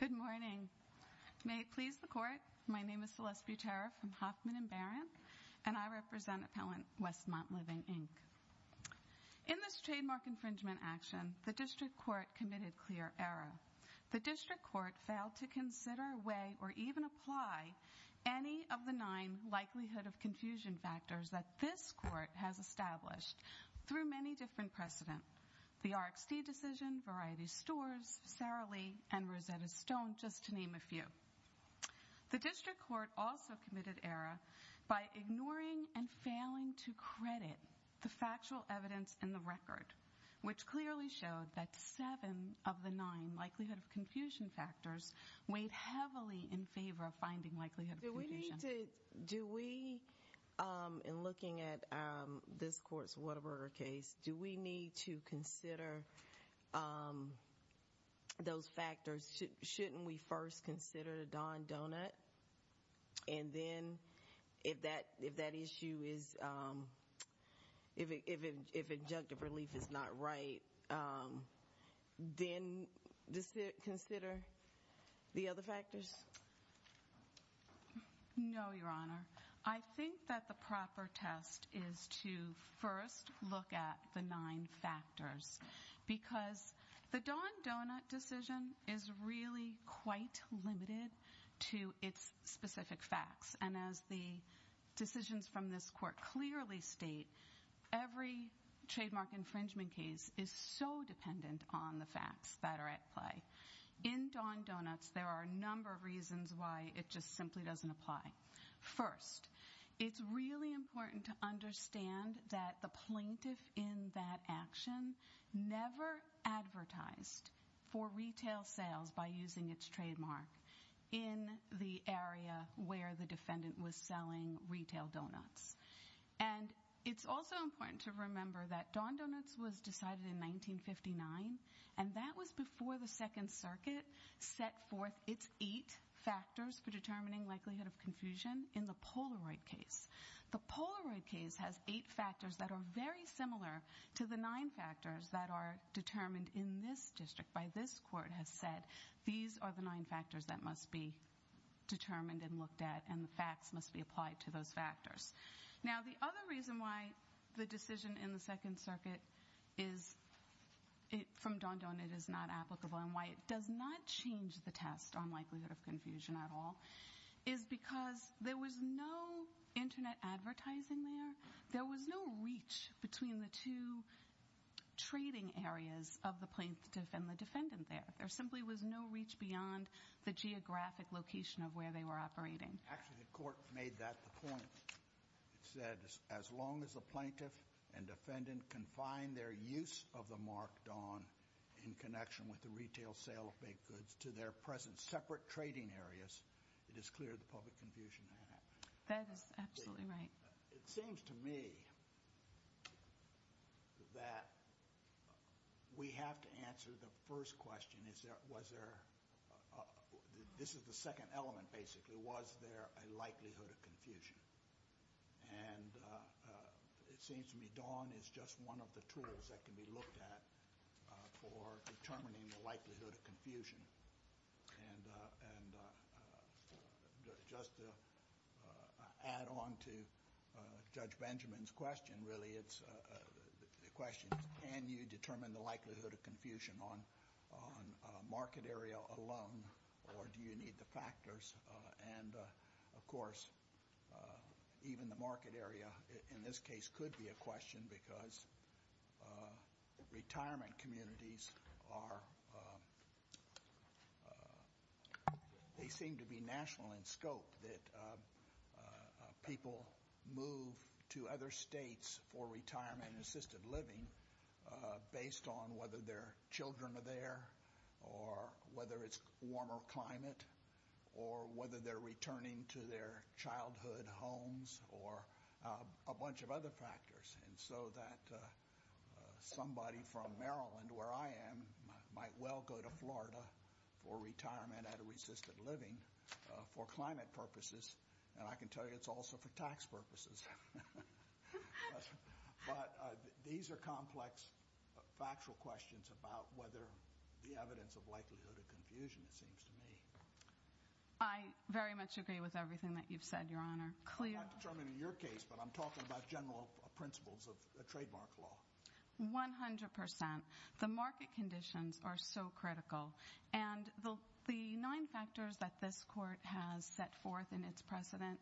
Good morning. May it please the Court, my name is Celeste Butera from Hoffman & Barron, and I represent Appellant Westmont Living, Inc. In this trademark infringement action, the District Court committed clear error. The District Court failed to consider, weigh, or even apply any of the nine likelihood of confusion factors that this Court has established through many different precedent, the RxD decision, Variety Stores, Sara Lee, and Rosetta Stone, just to name a few. The District Court also committed error by ignoring and failing to credit the factual evidence in the record, which clearly showed that seven of the nine likelihood of confusion factors weighed heavily in favor of finding likelihood of confusion. Do we, in looking at this court's Whataburger case, do we need to consider those factors? Shouldn't we first consider the Don Donut? And then if that issue is, if injunctive relief is not right, then consider the other factors? No, Your Honor. I think that the proper test is to first look at the nine factors. Because the Don Donut decision is really quite limited to its specific facts. And as the decisions from this court clearly state, every trademark infringement case is so dependent on the facts that are at play. In Don Donuts, there are a number of reasons why it just simply doesn't apply. First, it's really important to understand that the plaintiff in that action never advertised for retail sales by using its trademark in the area where the defendant was selling retail donuts. And it's also important to remember that Don Donuts was decided in 1959, and that was before the Second Circuit set forth its eight factors for determining likelihood of confusion in the Polaroid case. The Polaroid case has eight factors that are very similar to the nine factors that are determined in this district by this court has said. These are the nine factors that must be determined and looked at, and the facts must be applied to those factors. Now, the other reason why the decision in the Second Circuit from Don Donut is not applicable and why it does not change the test on likelihood of confusion at all is because there was no Internet advertising there. There was no reach between the two trading areas of the plaintiff and the defendant there. There simply was no reach beyond the geographic location of where they were operating. Actually, the court made that the point. It said as long as the plaintiff and defendant can find their use of the mark Don in connection with the retail sale of baked goods to their present separate trading areas, it is clear the public confusion had happened. That is absolutely right. It seems to me that we have to answer the first question. This is the second element, basically. Was there a likelihood of confusion? It seems to me Don is just one of the tools that can be looked at for determining the likelihood of confusion. Just to add on to Judge Benjamin's question, really, the question is can you determine the likelihood of confusion on market area alone, or do you need the factors? Of course, even the market area in this case could be a question because retirement communities seem to be national in scope. People move to other states for retirement and assisted living based on whether their children are there or whether it's warmer climate or whether they're returning to their childhood homes or a bunch of other factors. And so that somebody from Maryland, where I am, might well go to Florida for retirement at a resisted living for climate purposes. And I can tell you it's also for tax purposes. But these are complex factual questions about whether the evidence of likelihood of confusion, it seems to me. I very much agree with everything that you've said, Your Honor. I'm not determining your case, but I'm talking about general principles of trademark law. One hundred percent. The market conditions are so critical. And the nine factors that this Court has set forth in its precedent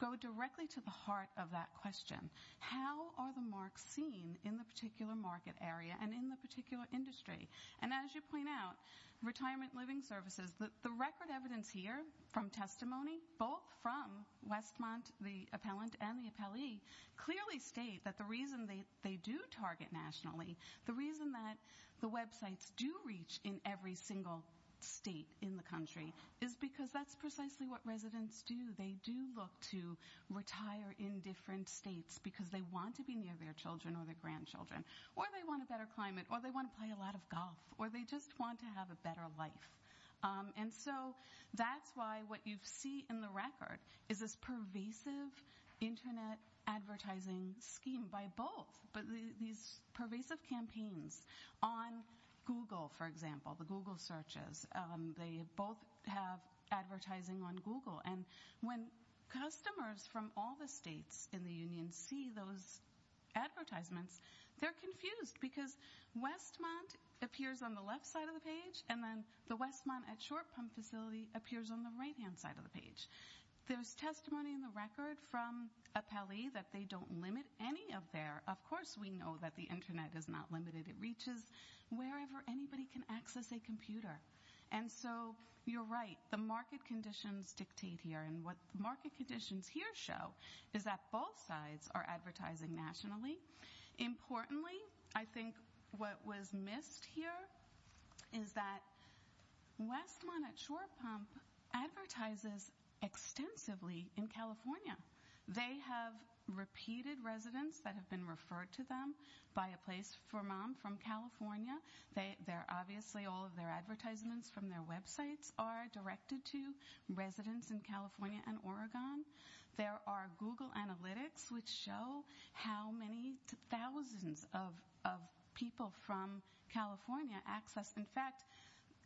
go directly to the heart of that question. How are the marks seen in the particular market area and in the particular industry? And as you point out, retirement living services, the record evidence here from testimony, both from Westmont, the appellant and the appellee, clearly state that the reason they do target nationally, the reason that the websites do reach in every single state in the country, is because that's precisely what residents do. They do look to retire in different states because they want to be near their children or their grandchildren. Or they want a better climate. Or they want to play a lot of golf. Or they just want to have a better life. And so that's why what you see in the record is this pervasive Internet advertising scheme by both. But these pervasive campaigns on Google, for example, the Google searches, they both have advertising on Google. And when customers from all the states in the union see those advertisements, they're confused. Because Westmont appears on the left side of the page, and then the Westmont at Short Pump facility appears on the right-hand side of the page. There's testimony in the record from appellee that they don't limit any of their of course we know that the Internet is not limited. It reaches wherever anybody can access a computer. And so you're right. The market conditions dictate here. And what the market conditions here show is that both sides are advertising nationally. Importantly, I think what was missed here is that Westmont at Short Pump advertises extensively in California. They have repeated residents that have been referred to them by a place for mom from California. They're obviously all of their advertisements from their websites are directed to residents in California and Oregon. There are Google analytics which show how many thousands of people from California access. In fact,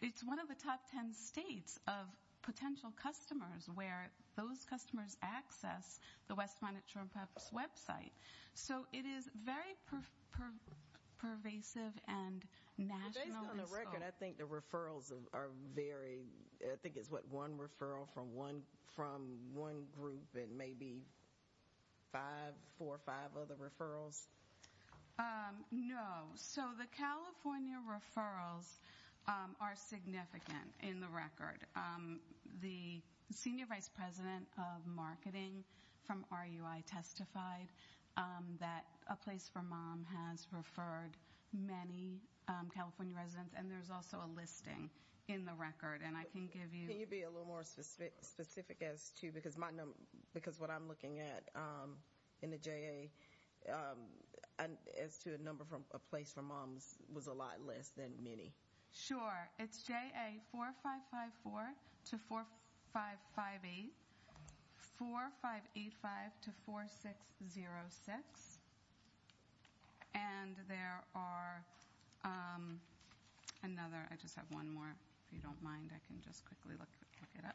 it's one of the top ten states of potential customers where those customers access the Westmont at Short Pumps website. So it is very pervasive and national. Based on the record, I think the referrals are very, I think it's what, one referral from one group and maybe five, four, five other referrals? No. So the California referrals are significant in the record. The senior vice president of marketing from RUI testified that a place for mom has referred many California residents. And there's also a listing in the record. And I can give you- Can you be a little more specific as to, because what I'm looking at in the JA, as to a number from a place for moms was a lot less than many. Sure. It's JA 4554 to 4558. 4585 to 4606. And there are another, I just have one more, if you don't mind, I can just quickly look it up.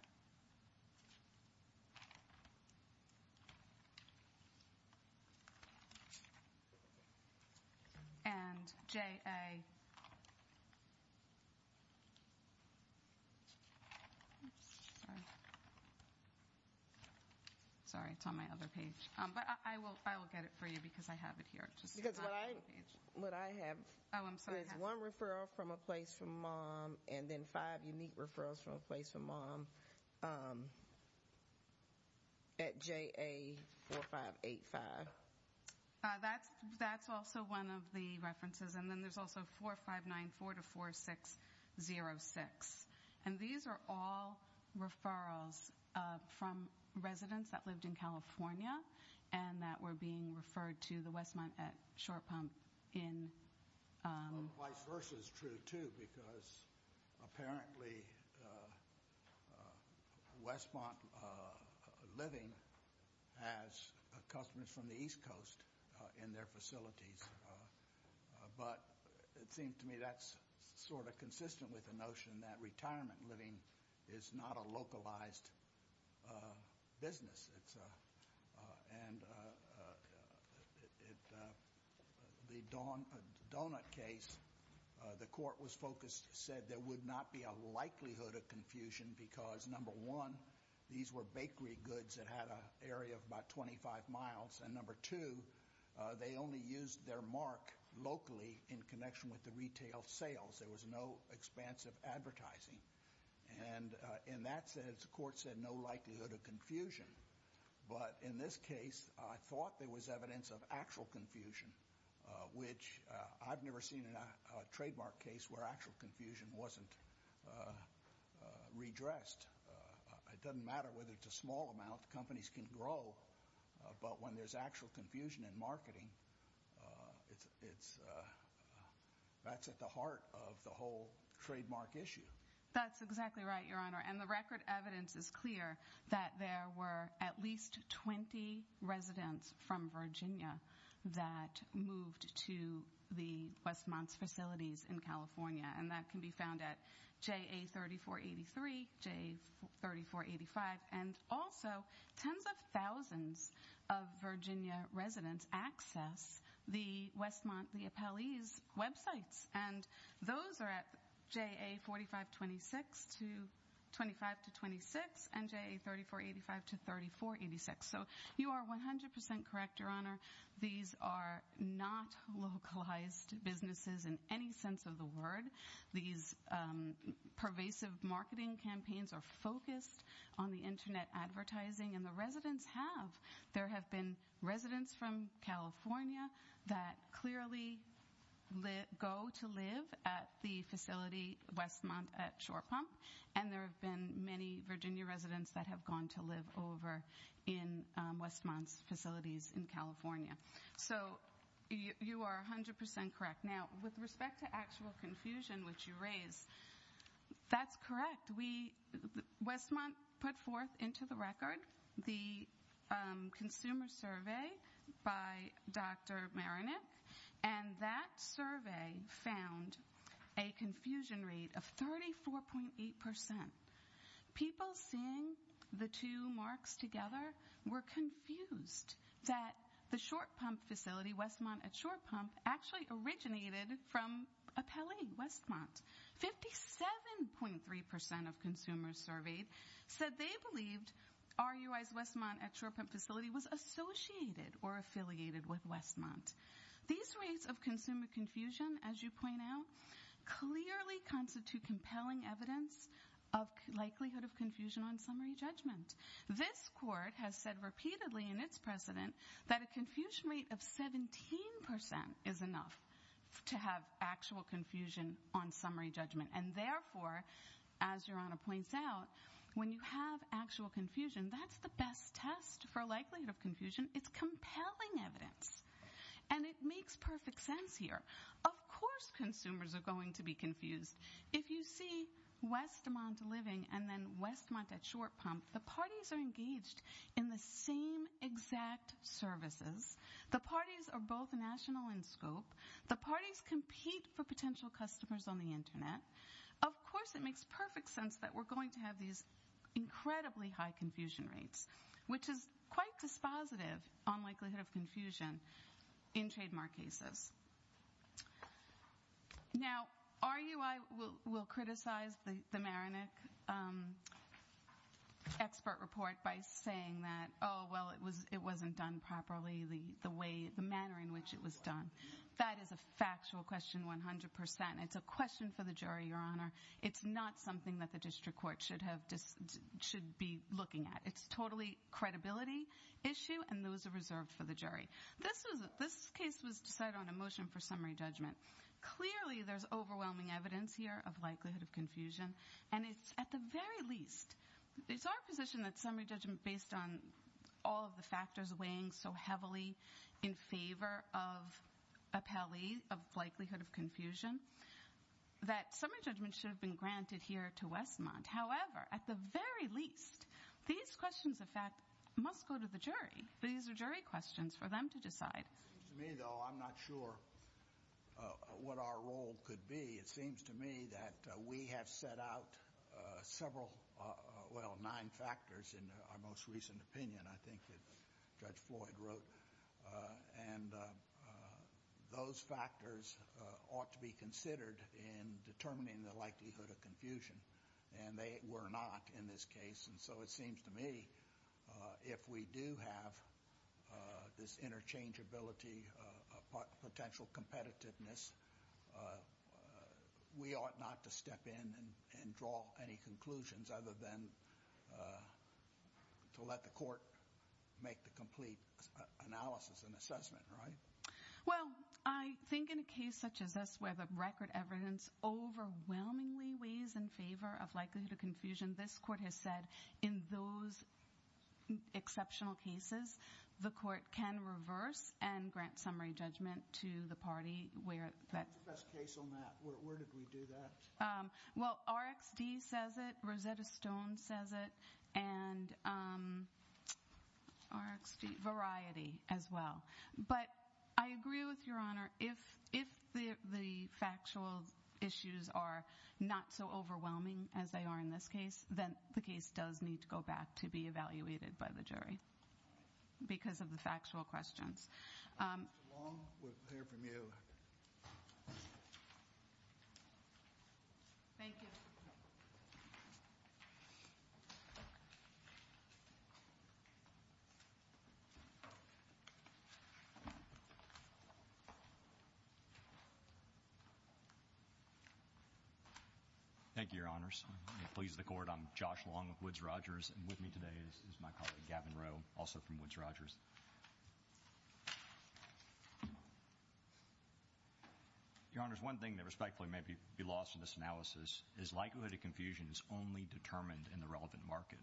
And JA. Sorry, it's on my other page. But I will get it for you because I have it here. Because what I have- I'm sorry. So there's one referral from a place for mom and then five unique referrals from a place for mom at JA 4585. That's also one of the references. And then there's also 4594 to 4606. And these are all referrals from residents that lived in California and that were being referred to the Westmont at Short Pump in- Vice versa is true, too, because apparently Westmont Living has customers from the East Coast in their facilities. But it seems to me that's sort of consistent with the notion that retirement living is not a localized business. And the donut case, the court was focused, said there would not be a likelihood of confusion because, number one, these were bakery goods that had an area of about 25 miles. And, number two, they only used their mark locally in connection with the retail sales. There was no expansive advertising. And in that sense, the court said no likelihood of confusion. But in this case, I thought there was evidence of actual confusion, which I've never seen in a trademark case where actual confusion wasn't redressed. It doesn't matter whether it's a small amount. Companies can grow. But when there's actual confusion in marketing, that's at the heart of the whole trademark issue. That's exactly right, Your Honor. And the record evidence is clear that there were at least 20 residents from Virginia that moved to the Westmont's facilities in California. And that can be found at JA3483, JA3485. And also, tens of thousands of Virginia residents access the Westmont Leopolis websites. And those are at JA4526 to 25 to 26 and JA3485 to 3486. So you are 100% correct, Your Honor. These are not localized businesses in any sense of the word. These pervasive marketing campaigns are focused on the Internet advertising. And the residents have. There have been residents from California that clearly go to live at the facility Westmont at Shore Pump. And there have been many Virginia residents that have gone to live over in Westmont's facilities in California. So you are 100% correct. Now, with respect to actual confusion, which you raised, that's correct. Westmont put forth into the record the consumer survey by Dr. Marinik. And that survey found a confusion rate of 34.8%. People seeing the two marks together were confused that the Short Pump facility, Westmont at Shore Pump, actually originated from a Pele, Westmont. 57.3% of consumers surveyed said they believed RUI's Westmont at Shore Pump facility was associated or affiliated with Westmont. These rates of consumer confusion, as you point out, clearly constitute compelling evidence of likelihood of confusion on summary judgment. This court has said repeatedly in its precedent that a confusion rate of 17% is enough to have actual confusion on summary judgment. And therefore, as Your Honor points out, when you have actual confusion, that's the best test for likelihood of confusion. It's compelling evidence. And it makes perfect sense here. Of course consumers are going to be confused. If you see Westmont Living and then Westmont at Shore Pump, the parties are engaged in the same exact services. The parties are both national in scope. The parties compete for potential customers on the Internet. Of course it makes perfect sense that we're going to have these incredibly high confusion rates, which is quite dispositive on likelihood of confusion in trademark cases. Now, RUI will criticize the Maronich expert report by saying that, oh, well, it wasn't done properly the manner in which it was done. That is a factual question 100%. It's a question for the jury, Your Honor. It's not something that the district court should be looking at. It's a totally credibility issue, and those are reserved for the jury. This case was decided on a motion for summary judgment. Clearly there's overwhelming evidence here of likelihood of confusion. And it's at the very least, it's our position that summary judgment, based on all of the factors weighing so heavily in favor of likelihood of confusion, that summary judgment should have been granted here to Westmont. However, at the very least, these questions, in fact, must go to the jury. These are jury questions for them to decide. To me, though, I'm not sure what our role could be. It seems to me that we have set out several, well, nine factors in our most recent opinion, I think, that Judge Floyd wrote. And those factors ought to be considered in determining the likelihood of confusion. And they were not in this case. And so it seems to me if we do have this interchangeability, potential competitiveness, we ought not to step in and draw any conclusions other than to let the court make the complete analysis and assessment, right? Well, I think in a case such as this where the record evidence overwhelmingly weighs in favor of likelihood of confusion, this court has said in those exceptional cases, the court can reverse and grant summary judgment to the party where that- What's the best case on that? Where did we do that? Well, RxD says it. Rosetta Stone says it. And RxD, Variety as well. But I agree with Your Honor, if the factual issues are not so overwhelming as they are in this case, then the case does need to go back to be evaluated by the jury because of the factual questions. Mr. Long, we'll hear from you. Thank you. Thank you. Thank you, Your Honors. Please the court. I'm Josh Long of Woods Rogers. And with me today is my colleague, Gavin Rowe, also from Woods Rogers. Your Honors, one thing that respectfully may be lost in this analysis is likelihood of confusion is only determined in the relevant market.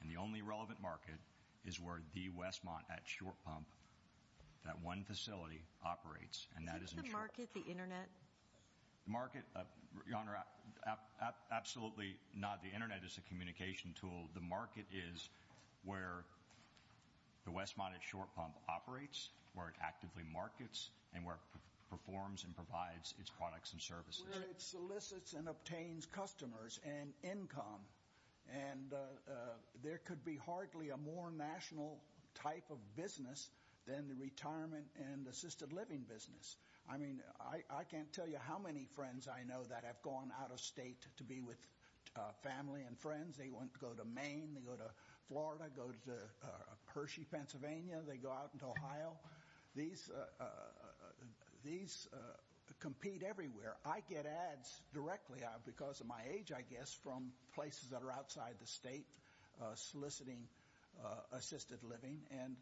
And the only relevant market is where the Westmont at short pump, that one facility, operates, and that is- Is it the market, the Internet? The market, Your Honor, absolutely not. The Internet is a communication tool. The market is where the Westmont at short pump operates, where it actively markets, and where it performs and provides its products and services. Where it solicits and obtains customers and income. And there could be hardly a more national type of business than the retirement and assisted living business. I mean, I can't tell you how many friends I know that have gone out of state to be with family and friends. They want to go to Maine. They go to Florida. They go to Hershey, Pennsylvania. They go out into Ohio. These compete everywhere. I get ads directly because of my age, I guess, from places that are outside the state soliciting assisted living. And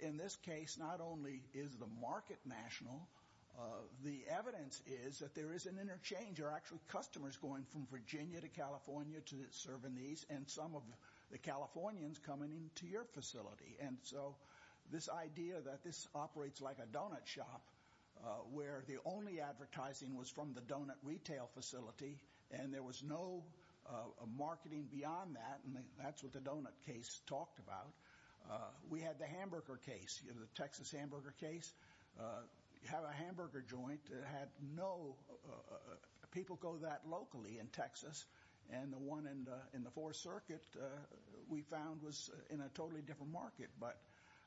in this case, not only is the market national, the evidence is that there is an interchange. There are actually customers going from Virginia to California to serve in these, and some of the Californians coming into your facility. And so this idea that this operates like a donut shop, where the only advertising was from the donut retail facility, and there was no marketing beyond that, and that's what the donut case talked about. We had the hamburger case, the Texas hamburger case. You have a hamburger joint that had no people go that locally in Texas. And the one in the Fourth Circuit, we found, was in a totally different market. But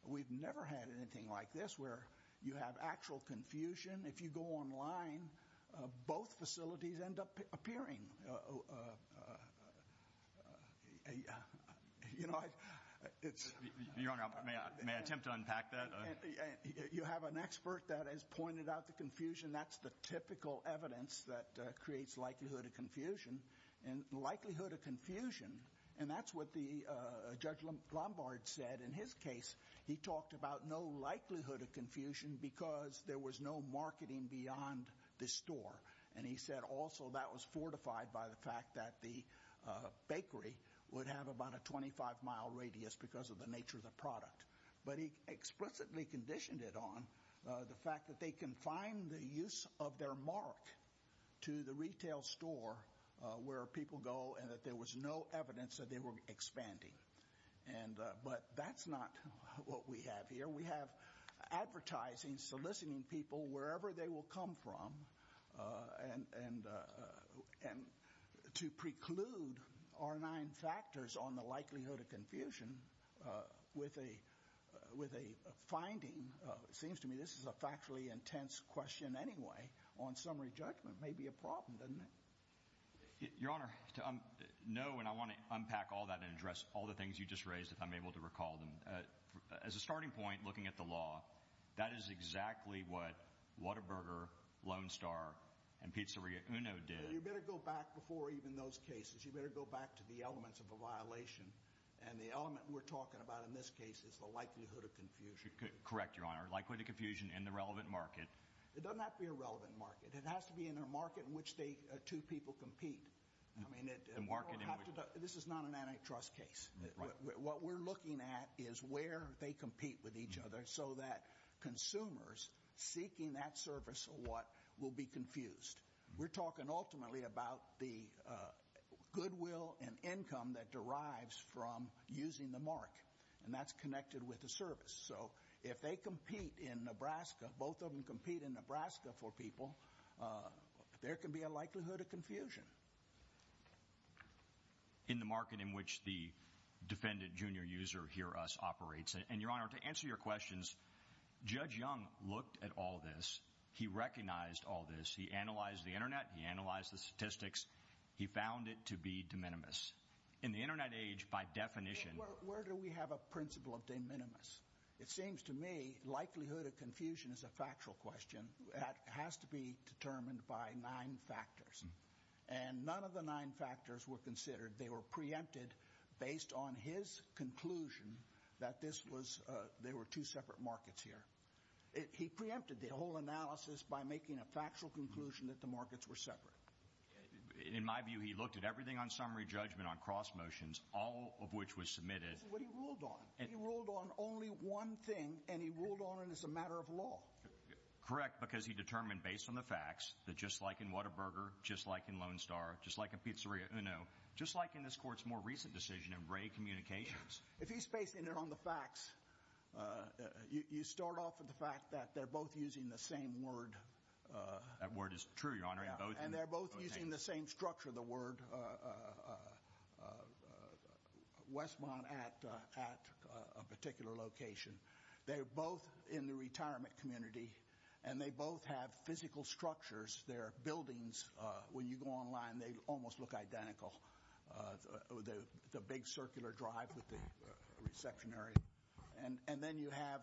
we've never had anything like this, where you have actual confusion. If you go online, both facilities end up appearing. Your Honor, may I attempt to unpack that? You have an expert that has pointed out the confusion. That's the typical evidence that creates likelihood of confusion. And likelihood of confusion, and that's what Judge Lombard said in his case. He talked about no likelihood of confusion because there was no marketing beyond the store. And he said also that was fortified by the fact that the bakery would have about a 25-mile radius because of the nature of the product. But he explicitly conditioned it on the fact that they can find the use of their mark to the retail store where people go, and that there was no evidence that they were expanding. But that's not what we have here. We have advertising soliciting people wherever they will come from, and to preclude our nine factors on the likelihood of confusion with a finding. It seems to me this is a factually intense question anyway on summary judgment. It may be a problem, doesn't it? Your Honor, no, and I want to unpack all that and address all the things you just raised if I'm able to recall them. As a starting point, looking at the law, that is exactly what Whataburger, Lone Star, and Pizzeria Uno did. You better go back before even those cases. You better go back to the elements of a violation. And the element we're talking about in this case is the likelihood of confusion. Correct, Your Honor. Likelihood of confusion in the relevant market. It doesn't have to be a relevant market. It has to be in a market in which two people compete. This is not an antitrust case. What we're looking at is where they compete with each other so that consumers seeking that service or what will be confused. We're talking ultimately about the goodwill and income that derives from using the mark, and that's connected with the service. So if they compete in Nebraska, both of them compete in Nebraska for people, there can be a likelihood of confusion. In the market in which the defendant, junior user, Hear Us operates. And, Your Honor, to answer your questions, Judge Young looked at all this. He recognized all this. He analyzed the Internet. He analyzed the statistics. He found it to be de minimis. In the Internet age, by definition. Where do we have a principle of de minimis? It seems to me likelihood of confusion is a factual question. It has to be determined by nine factors. And none of the nine factors were considered. They were preempted based on his conclusion that there were two separate markets here. He preempted the whole analysis by making a factual conclusion that the markets were separate. In my view, he looked at everything on summary judgment on cross motions, all of which was submitted. That's what he ruled on. He ruled on only one thing, and he ruled on it as a matter of law. Correct, because he determined based on the facts that just like in Whataburger, just like in Lone Star, just like in Pizzeria Uno, just like in this court's more recent decision in Ray Communications. If he's basing it on the facts, you start off with the fact that they're both using the same word. That word is true, Your Honor. And they're both using the same structure, the word Westmont at a particular location. They're both in the retirement community, and they both have physical structures. Their buildings, when you go online, they almost look identical, the big circular drive with the section area. And then you have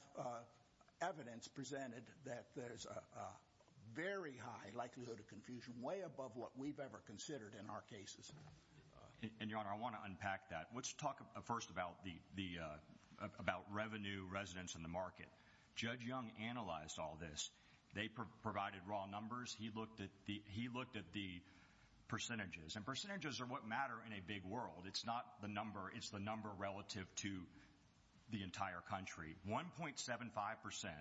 evidence presented that there's a very high likelihood of confusion, way above what we've ever considered in our cases. And, Your Honor, I want to unpack that. Let's talk first about revenue, residents, and the market. Judge Young analyzed all this. They provided raw numbers. He looked at the percentages, and percentages are what matter in a big world. It's not the number. It's the number relative to the entire country. 1.75 percent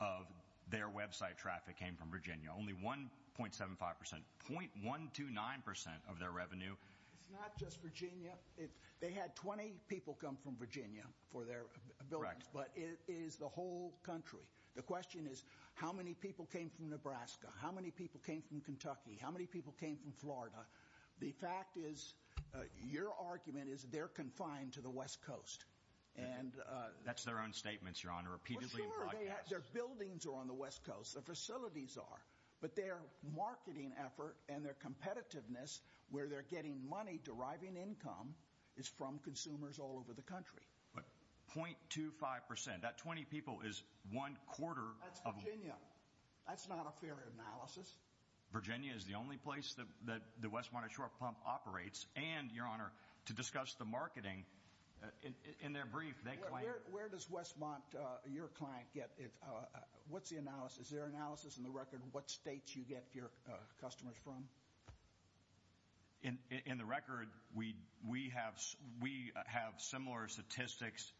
of their website traffic came from Virginia, only 1.75 percent, 0.129 percent of their revenue. It's not just Virginia. They had 20 people come from Virginia for their buildings, but it is the whole country. The question is how many people came from Nebraska, how many people came from Kentucky, how many people came from Florida. The fact is, your argument is they're confined to the West Coast. That's their own statements, Your Honor, repeatedly in broadcasts. Their buildings are on the West Coast, their facilities are. But their marketing effort and their competitiveness, where they're getting money deriving income, is from consumers all over the country. But 0.25 percent, that 20 people is one quarter. That's Virginia. That's not a fair analysis. Virginia is the only place that the Westmont Ashore Pump operates. And, Your Honor, to discuss the marketing, in their brief, they claim— Where does Westmont, your client, get it? What's the analysis? Is there analysis in the record what states you get your customers from? In the record, we have similar statistics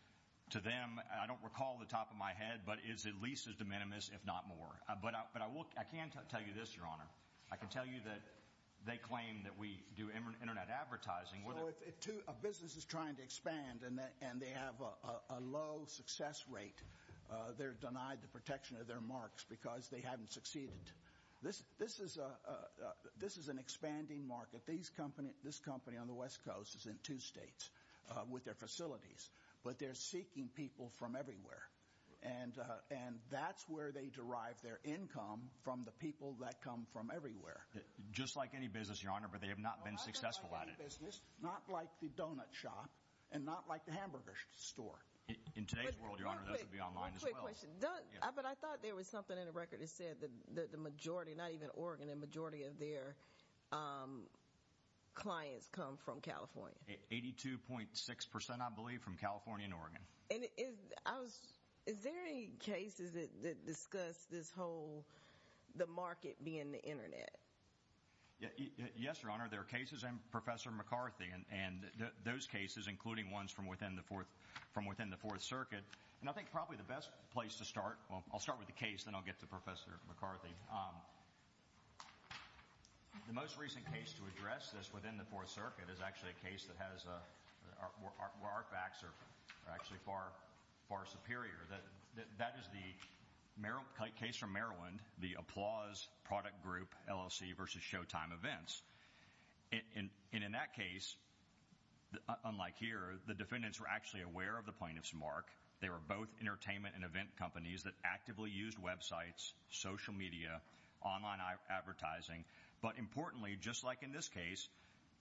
to them. I don't recall off the top of my head, but it is at least as de minimis, if not more. But I can tell you this, Your Honor. I can tell you that they claim that we do Internet advertising. So if a business is trying to expand and they have a low success rate, they're denied the protection of their marks because they haven't succeeded. This is an expanding market. This company on the West Coast is in two states with their facilities. But they're seeking people from everywhere. And that's where they derive their income, from the people that come from everywhere. Just like any business, Your Honor, but they have not been successful at it. Not like the donut shop and not like the hamburger store. In today's world, Your Honor, that would be online as well. But I thought there was something in the record that said that the majority, not even Oregon, the majority of their clients come from California. 82.6 percent, I believe, from California and Oregon. And is there any cases that discuss this whole, the market being the Internet? Yes, Your Honor. There are cases, and Professor McCarthy, and those cases, including ones from within the Fourth Circuit. And I think probably the best place to start, well, I'll start with the case, then I'll get to Professor McCarthy. The most recent case to address this within the Fourth Circuit is actually a case that has, where our facts are actually far superior. That is the case from Maryland, the Applause Product Group LLC versus Showtime Events. And in that case, unlike here, the defendants were actually aware of the plaintiff's mark. They were both entertainment and event companies that actively used websites, social media, online advertising. But importantly, just like in this case,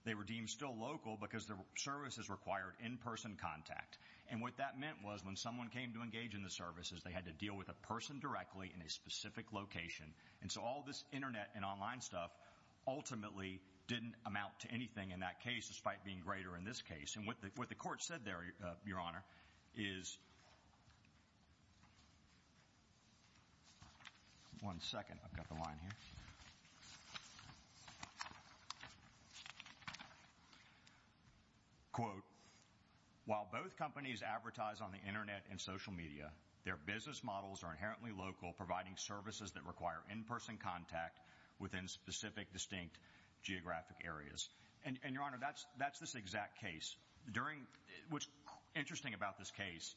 they were deemed still local because their services required in-person contact. And what that meant was when someone came to engage in the services, they had to deal with a person directly in a specific location. And so all this Internet and online stuff ultimately didn't amount to anything in that case, despite being greater in this case. And what the court said there, Your Honor, is – one second, I've got the line here – quote, while both companies advertise on the Internet and social media, their business models are inherently local, providing services that require in-person contact within specific, distinct geographic areas. And, Your Honor, that's this exact case. During – what's interesting about this case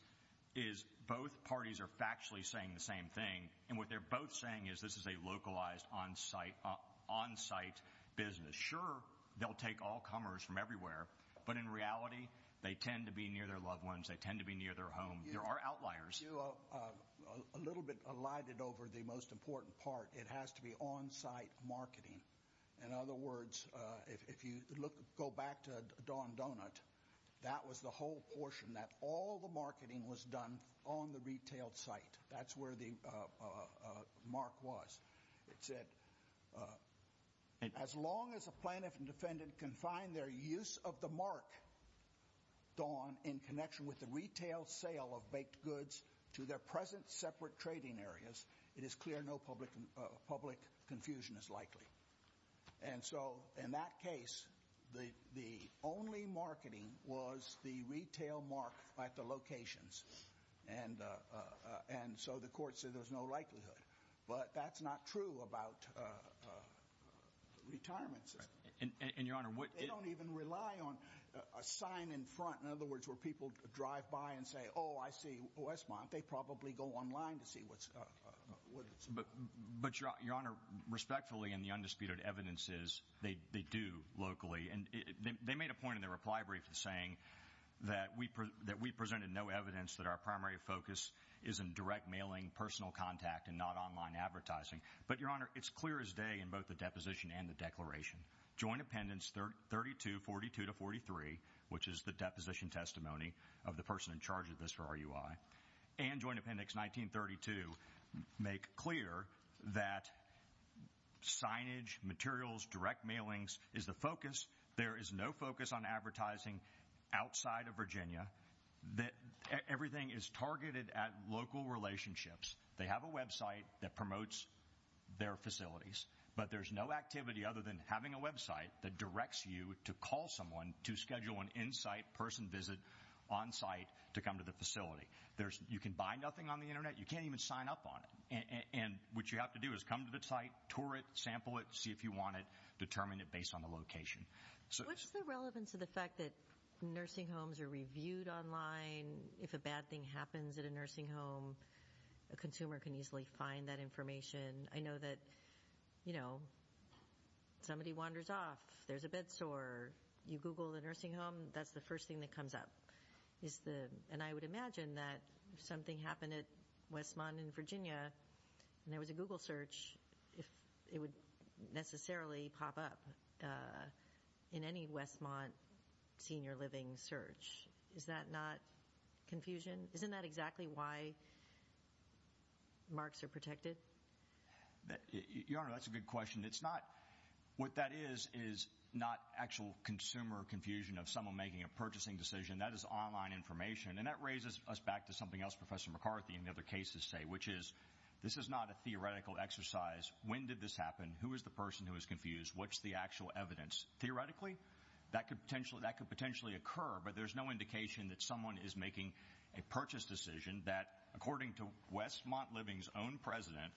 is both parties are factually saying the same thing. And what they're both saying is this is a localized, on-site business. Sure, they'll take all comers from everywhere, but in reality, they tend to be near their loved ones. They tend to be near their home. There are outliers. You are a little bit alighted over the most important part. It has to be on-site marketing. In other words, if you go back to Don Donut, that was the whole portion, that all the marketing was done on the retail site. That's where the mark was. It said, as long as a plaintiff and defendant can find their use of the mark, Don, in connection with the retail sale of baked goods to their present separate trading areas, it is clear no public confusion is likely. And so, in that case, the only marketing was the retail mark at the locations. And so the court said there's no likelihood. But that's not true about retirement systems. And, Your Honor, what – They don't even rely on a sign in front. In other words, where people drive by and say, oh, I see Westmont, they probably go online to see what's – But, Your Honor, respectfully, and the undisputed evidence is, they do locally. And they made a point in their reply brief saying that we presented no evidence that our primary focus is in direct mailing, personal contact, and not online advertising. But, Your Honor, it's clear as day in both the deposition and the declaration. Joint Appendix 3242-43, which is the deposition testimony of the person in charge of this for RUI, and Joint Appendix 1932 make clear that signage, materials, direct mailings is the focus. There is no focus on advertising outside of Virginia. Everything is targeted at local relationships. They have a website that promotes their facilities. But there's no activity other than having a website that directs you to call someone to schedule an in-site person visit on site to come to the facility. You can buy nothing on the Internet. You can't even sign up on it. And what you have to do is come to the site, tour it, sample it, see if you want it, determine it based on the location. What's the relevance of the fact that nursing homes are reviewed online? If a bad thing happens at a nursing home, a consumer can easily find that information. I know that, you know, somebody wanders off, there's a bed sore, you Google the nursing home, that's the first thing that comes up. And I would imagine that if something happened at Westmont in Virginia and there was a Google search, if it would necessarily pop up in any Westmont senior living search, is that not confusion? Isn't that exactly why marks are protected? Your Honor, that's a good question. It's not what that is is not actual consumer confusion of someone making a purchasing decision. That is online information. And that raises us back to something else Professor McCarthy and the other cases say, which is this is not a theoretical exercise. When did this happen? Who is the person who is confused? What's the actual evidence? Theoretically, that could potentially occur, but there's no indication that someone is making a purchase decision that, according to Westmont Living's own president,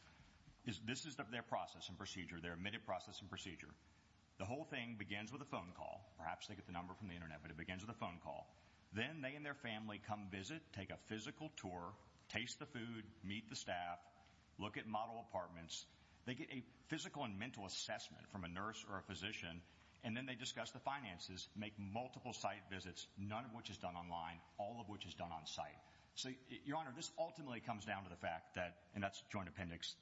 this is their process and procedure, their admitted process and procedure. The whole thing begins with a phone call. Perhaps they get the number from the Internet, but it begins with a phone call. Then they and their family come visit, take a physical tour, taste the food, meet the staff, look at model apartments. They get a physical and mental assessment from a nurse or a physician, and then they discuss the finances, make multiple site visits, none of which is done online, all of which is done on site. So, Your Honor, this ultimately comes down to the fact that and that's Joint Appendix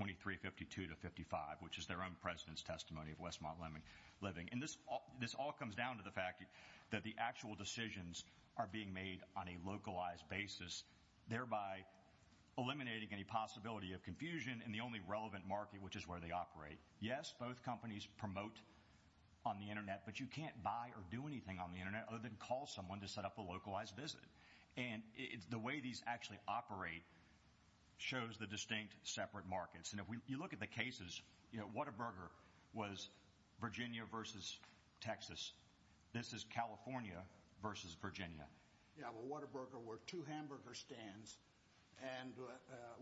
2352 to 55, which is their own president's testimony of Westmont Living. And this this all comes down to the fact that the actual decisions are being made on a localized basis, thereby eliminating any possibility of confusion in the only relevant market, which is where they operate. Yes, both companies promote on the Internet, but you can't buy or do anything on the Internet other than call someone to set up a localized visit. And the way these actually operate shows the distinct separate markets. And if you look at the cases, you know, Whataburger was Virginia versus Texas. This is California versus Virginia. Yeah, well, Whataburger were two hamburger stands. And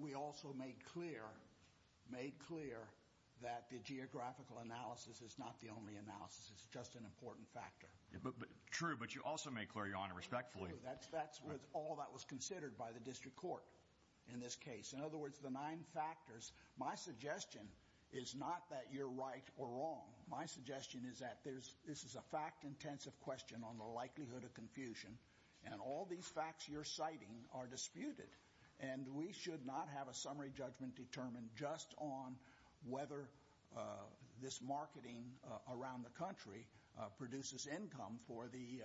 we also made clear made clear that the geographical analysis is not the only analysis. It's just an important factor. True. But you also make clear, Your Honor, respectfully, that's that's all that was considered by the district court in this case. In other words, the nine factors. My suggestion is not that you're right or wrong. My suggestion is that there's this is a fact intensive question on the likelihood of confusion. And all these facts you're citing are disputed. And we should not have a summary judgment determined just on whether this marketing around the country produces income for the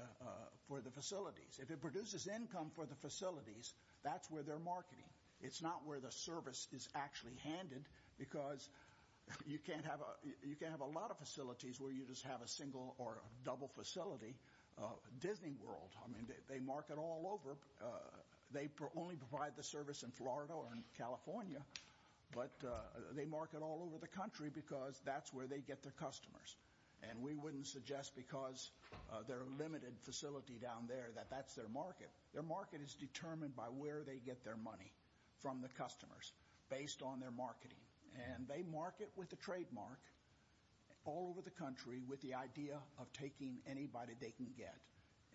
for the facilities. If it produces income for the facilities, that's where they're marketing. It's not where the service is actually handed. Because you can't have a lot of facilities where you just have a single or double facility. Disney World, I mean, they market all over. They only provide the service in Florida or in California. But they market all over the country because that's where they get their customers. And we wouldn't suggest because they're a limited facility down there that that's their market. Their market is determined by where they get their money from the customers based on their marketing. And they market with the trademark all over the country with the idea of taking anybody they can get.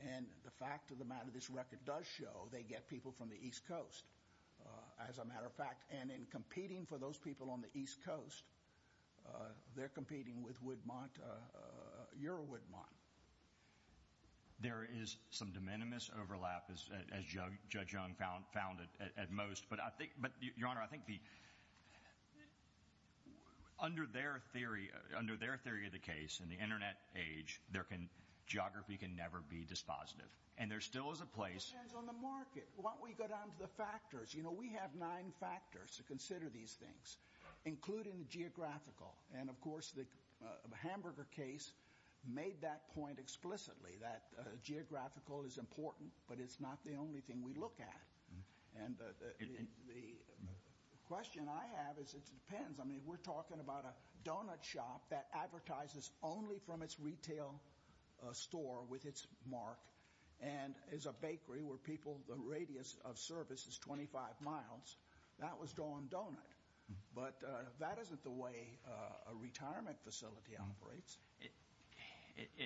And the fact of the matter, this record does show they get people from the East Coast, as a matter of fact. And in competing for those people on the East Coast, they're competing with Woodmont. You're a Woodmont. There is some de minimis overlap, as Judge Young found it at most. But, Your Honor, I think under their theory of the case in the Internet age, geography can never be dispositive. And there still is a place. It depends on the market. Why don't we go down to the factors? You know, we have nine factors to consider these things, including the geographical. And, of course, the hamburger case made that point explicitly, that geographical is important, but it's not the only thing we look at. And the question I have is it depends. I mean, we're talking about a donut shop that advertises only from its retail store with its mark and is a bakery where people, the radius of service is 25 miles. That was going donut. But that isn't the way a retirement facility operates.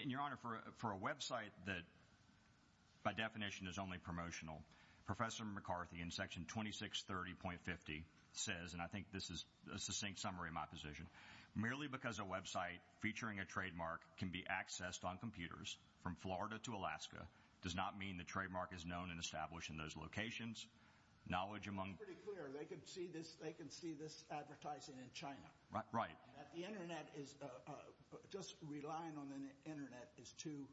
And, Your Honor, for a website that, by definition, is only promotional, Professor McCarthy in Section 2630.50 says, and I think this is a succinct summary of my position, merely because a website featuring a trademark can be accessed on computers from Florida to Alaska does not mean the trademark is known and established in those locations. It's pretty clear. They can see this advertising in China. The Internet is just relying on the Internet is too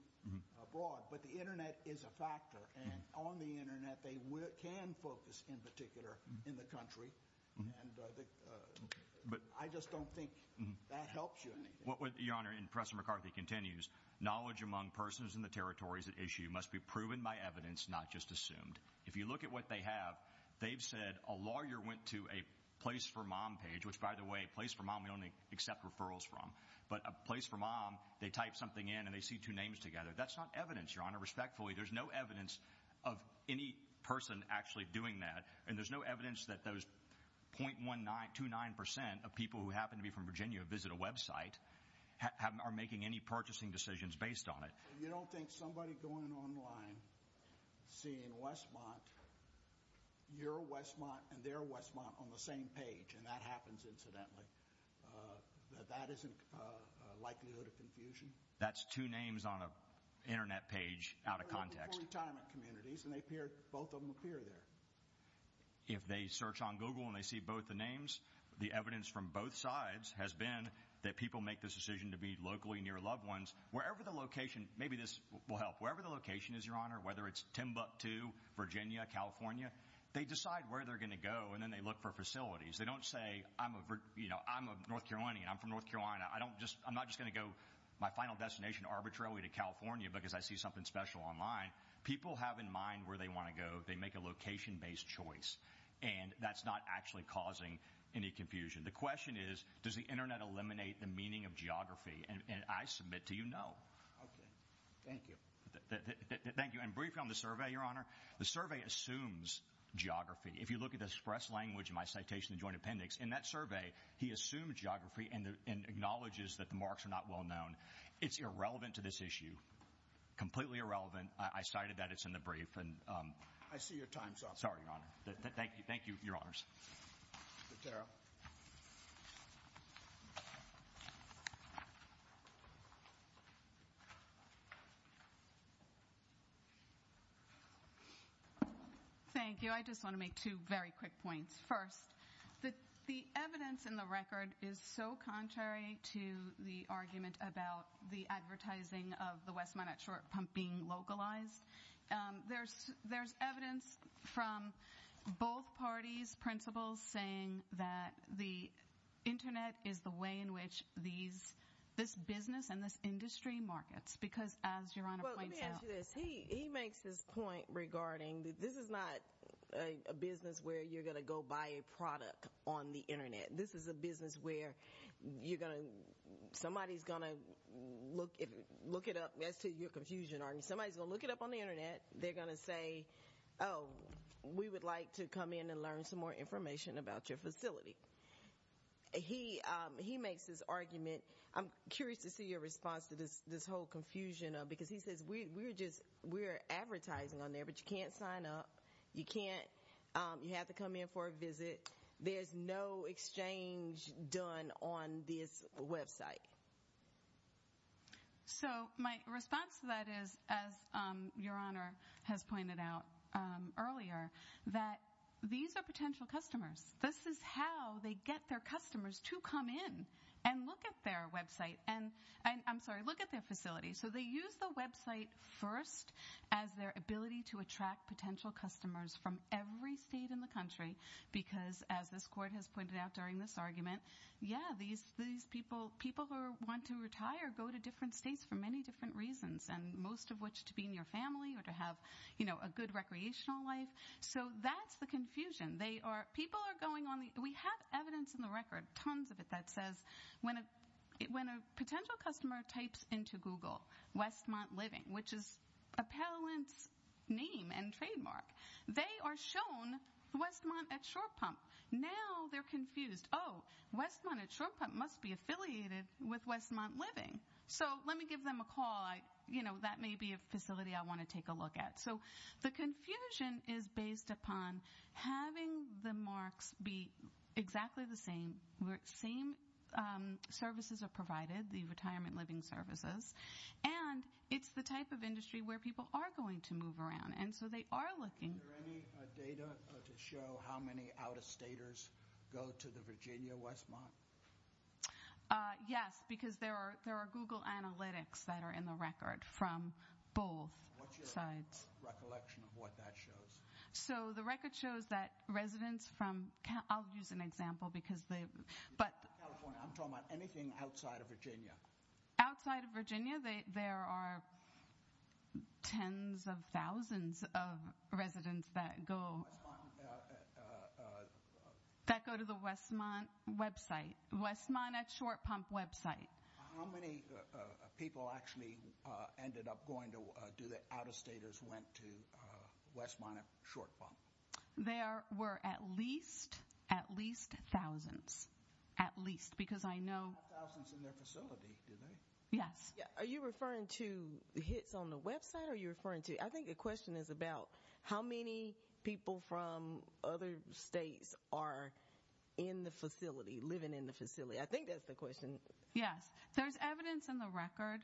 broad. But the Internet is a factor. And on the Internet, they can focus in particular in the country. And I just don't think that helps you in anything. Your Honor, and Professor McCarthy continues, knowledge among persons in the territories at issue must be proven by evidence, not just assumed. If you look at what they have, they've said a lawyer went to a place for mom page, which, by the way, a place for mom we only accept referrals from. But a place for mom, they type something in and they see two names together. That's not evidence, Your Honor, respectfully. There's no evidence of any person actually doing that. And there's no evidence that those 0.29 percent of people who happen to be from Virginia visit a website are making any purchasing decisions based on it. You don't think somebody going online seeing Westmont, your Westmont and their Westmont on the same page, and that happens incidentally, that that isn't a likelihood of confusion? That's two names on an Internet page out of context. They're both from retirement communities, and they appear, both of them appear there. If they search on Google and they see both the names, the evidence from both sides has been that people make this decision to be locally near loved ones. Wherever the location, maybe this will help, wherever the location is, Your Honor, whether it's Timbuktu, Virginia, California, they decide where they're going to go, and then they look for facilities. They don't say, you know, I'm a North Carolinian. I'm from North Carolina. I'm not just going to go my final destination arbitrarily to California because I see something special online. People have in mind where they want to go. They make a location-based choice, and that's not actually causing any confusion. The question is, does the Internet eliminate the meaning of geography? And I submit to you, no. Okay. Thank you. Thank you. And briefly on the survey, Your Honor, the survey assumes geography. If you look at the express language in my citation in the Joint Appendix, in that survey he assumed geography and acknowledges that the marks are not well known. It's irrelevant to this issue, completely irrelevant. I cited that. It's in the brief. I see your time's up. Sorry, Your Honor. Thank you. Thank you, Your Honors. Ms. Carroll. Thank you. I just want to make two very quick points. First, the evidence in the record is so contrary to the argument about the advertising of the West Minot Short Pump being localized. There's evidence from both parties' principles saying that the Internet is the way in which this business and this industry markets. Because, as Your Honor points out— Well, let me ask you this. He makes his point regarding that this is not a business where you're going to go buy a product on the Internet. This is a business where somebody's going to look it up. That's to your confusion, Your Honor. Somebody's going to look it up on the Internet. They're going to say, oh, we would like to come in and learn some more information about your facility. He makes this argument. I'm curious to see your response to this whole confusion, because he says we're advertising on there, but you can't sign up. You have to come in for a visit. There's no exchange done on this website. So my response to that is, as Your Honor has pointed out earlier, that these are potential customers. This is how they get their customers to come in and look at their website—I'm sorry, look at their facility. So they use the website first as their ability to attract potential customers from every state in the country. Because, as this Court has pointed out during this argument, yeah, these people who want to retire go to different states for many different reasons, most of which to be in your family or to have a good recreational life. So that's the confusion. We have evidence in the record, tons of it, that says when a potential customer types into Google Westmont Living, which is a parent's name and trademark, they are shown Westmont at Shorepump. Now they're confused. Oh, Westmont at Shorepump must be affiliated with Westmont Living. So let me give them a call. That may be a facility I want to take a look at. So the confusion is based upon having the marks be exactly the same. The same services are provided, the retirement living services, and it's the type of industry where people are going to move around, and so they are looking. Are there any data to show how many out-of-staters go to the Virginia Westmont? Yes, because there are Google Analytics that are in the record from both sides. Give us a recollection of what that shows. So the record shows that residents from California. I'll use an example. California. I'm talking about anything outside of Virginia. Outside of Virginia, there are tens of thousands of residents that go to the Westmont website, Westmont at Shorepump website. How many people actually ended up going to do the out-of-staters went to Westmont at Shorepump? There were at least thousands, at least, because I know. They have thousands in their facility, do they? Yes. Are you referring to hits on the website, or are you referring to? I think the question is about how many people from other states are in the facility, living in the facility. I think that's the question. Yes. There's evidence in the record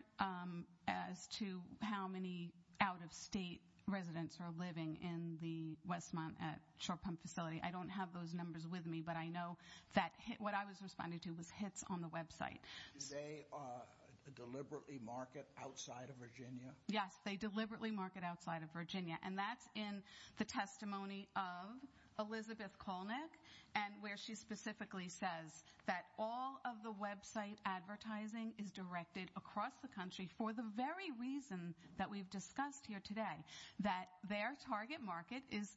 as to how many out-of-state residents are living in the Westmont at Shorepump facility. I don't have those numbers with me, but I know that what I was responding to was hits on the website. Do they deliberately market outside of Virginia? Yes, they deliberately market outside of Virginia. And that's in the testimony of Elizabeth Kolnick, and where she specifically says that all of the website advertising is directed across the country for the very reason that we've discussed here today, that their target market is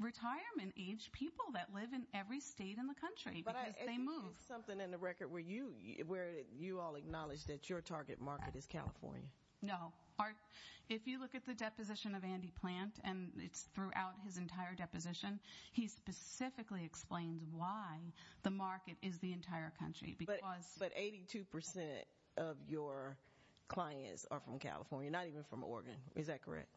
retirement-age people that live in every state in the country because they move. But I think there's something in the record where you all acknowledge that your target market is California. No. If you look at the deposition of Andy Plant, and it's throughout his entire deposition, he specifically explains why the market is the entire country. But 82% of your clients are from California, not even from Oregon. Is that correct?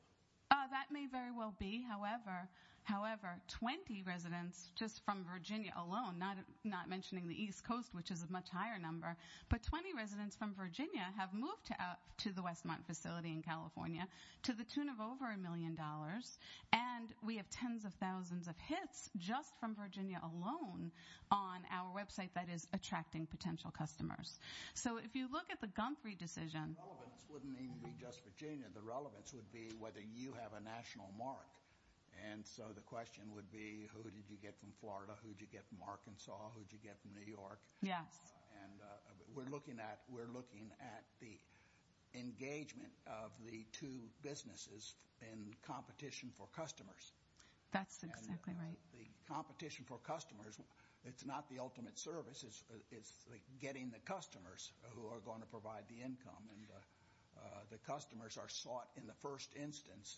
That may very well be. However, 20 residents just from Virginia alone, not mentioning the East Coast, which is a much higher number, but 20 residents from Virginia have moved to the Westmont facility in California to the tune of over a million dollars. And we have tens of thousands of hits just from Virginia alone on our website that is attracting potential customers. So if you look at the Gumphrey decision… The relevance wouldn't even be just Virginia. The relevance would be whether you have a national mark. And so the question would be who did you get from Florida, who did you get from Arkansas, who did you get from New York? Yes. And we're looking at the engagement of the two businesses in competition for customers. That's exactly right. The competition for customers, it's not the ultimate service. It's getting the customers who are going to provide the income. And the customers are sought in the first instance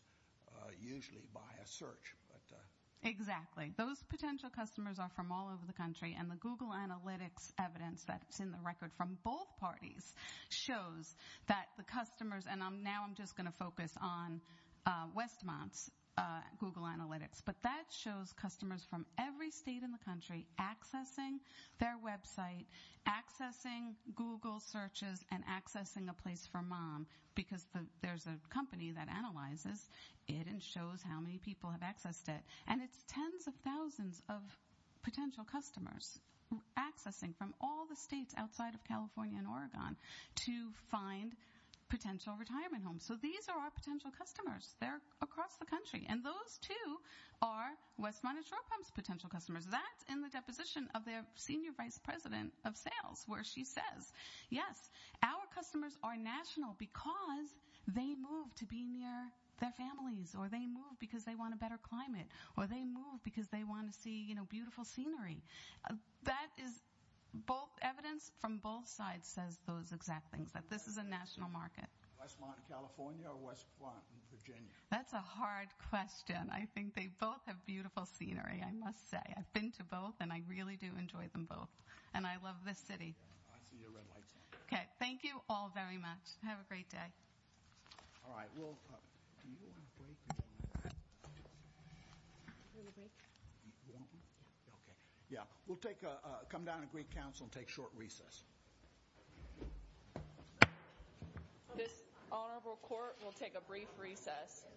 usually by a search. Exactly. Those potential customers are from all over the country. And the Google Analytics evidence that's in the record from both parties shows that the customers… And now I'm just going to focus on Westmont's Google Analytics. But that shows customers from every state in the country accessing their website, accessing Google searches, and accessing a place for mom. Because there's a company that analyzes it and shows how many people have accessed it. And it's tens of thousands of potential customers accessing from all the states outside of California and Oregon to find potential retirement homes. So these are our potential customers. They're across the country. And those, too, are Westmont and Shore Pump's potential customers. That's in the deposition of their senior vice president of sales where she says, yes, our customers are national because they move to be near their families. Or they move because they want a better climate. Or they move because they want to see, you know, beautiful scenery. That is evidence from both sides says those exact things, that this is a national market. Westmont in California or Westmont in Virginia? That's a hard question. I think they both have beautiful scenery, I must say. I've been to both. And I really do enjoy them both. And I love this city. I see your red lights. Okay. Thank you all very much. Have a great day. All right. Do you want a break? Okay. Yeah. We'll come down to Greek Council and take a short recess. This honorable court will take a brief recess. Thank you.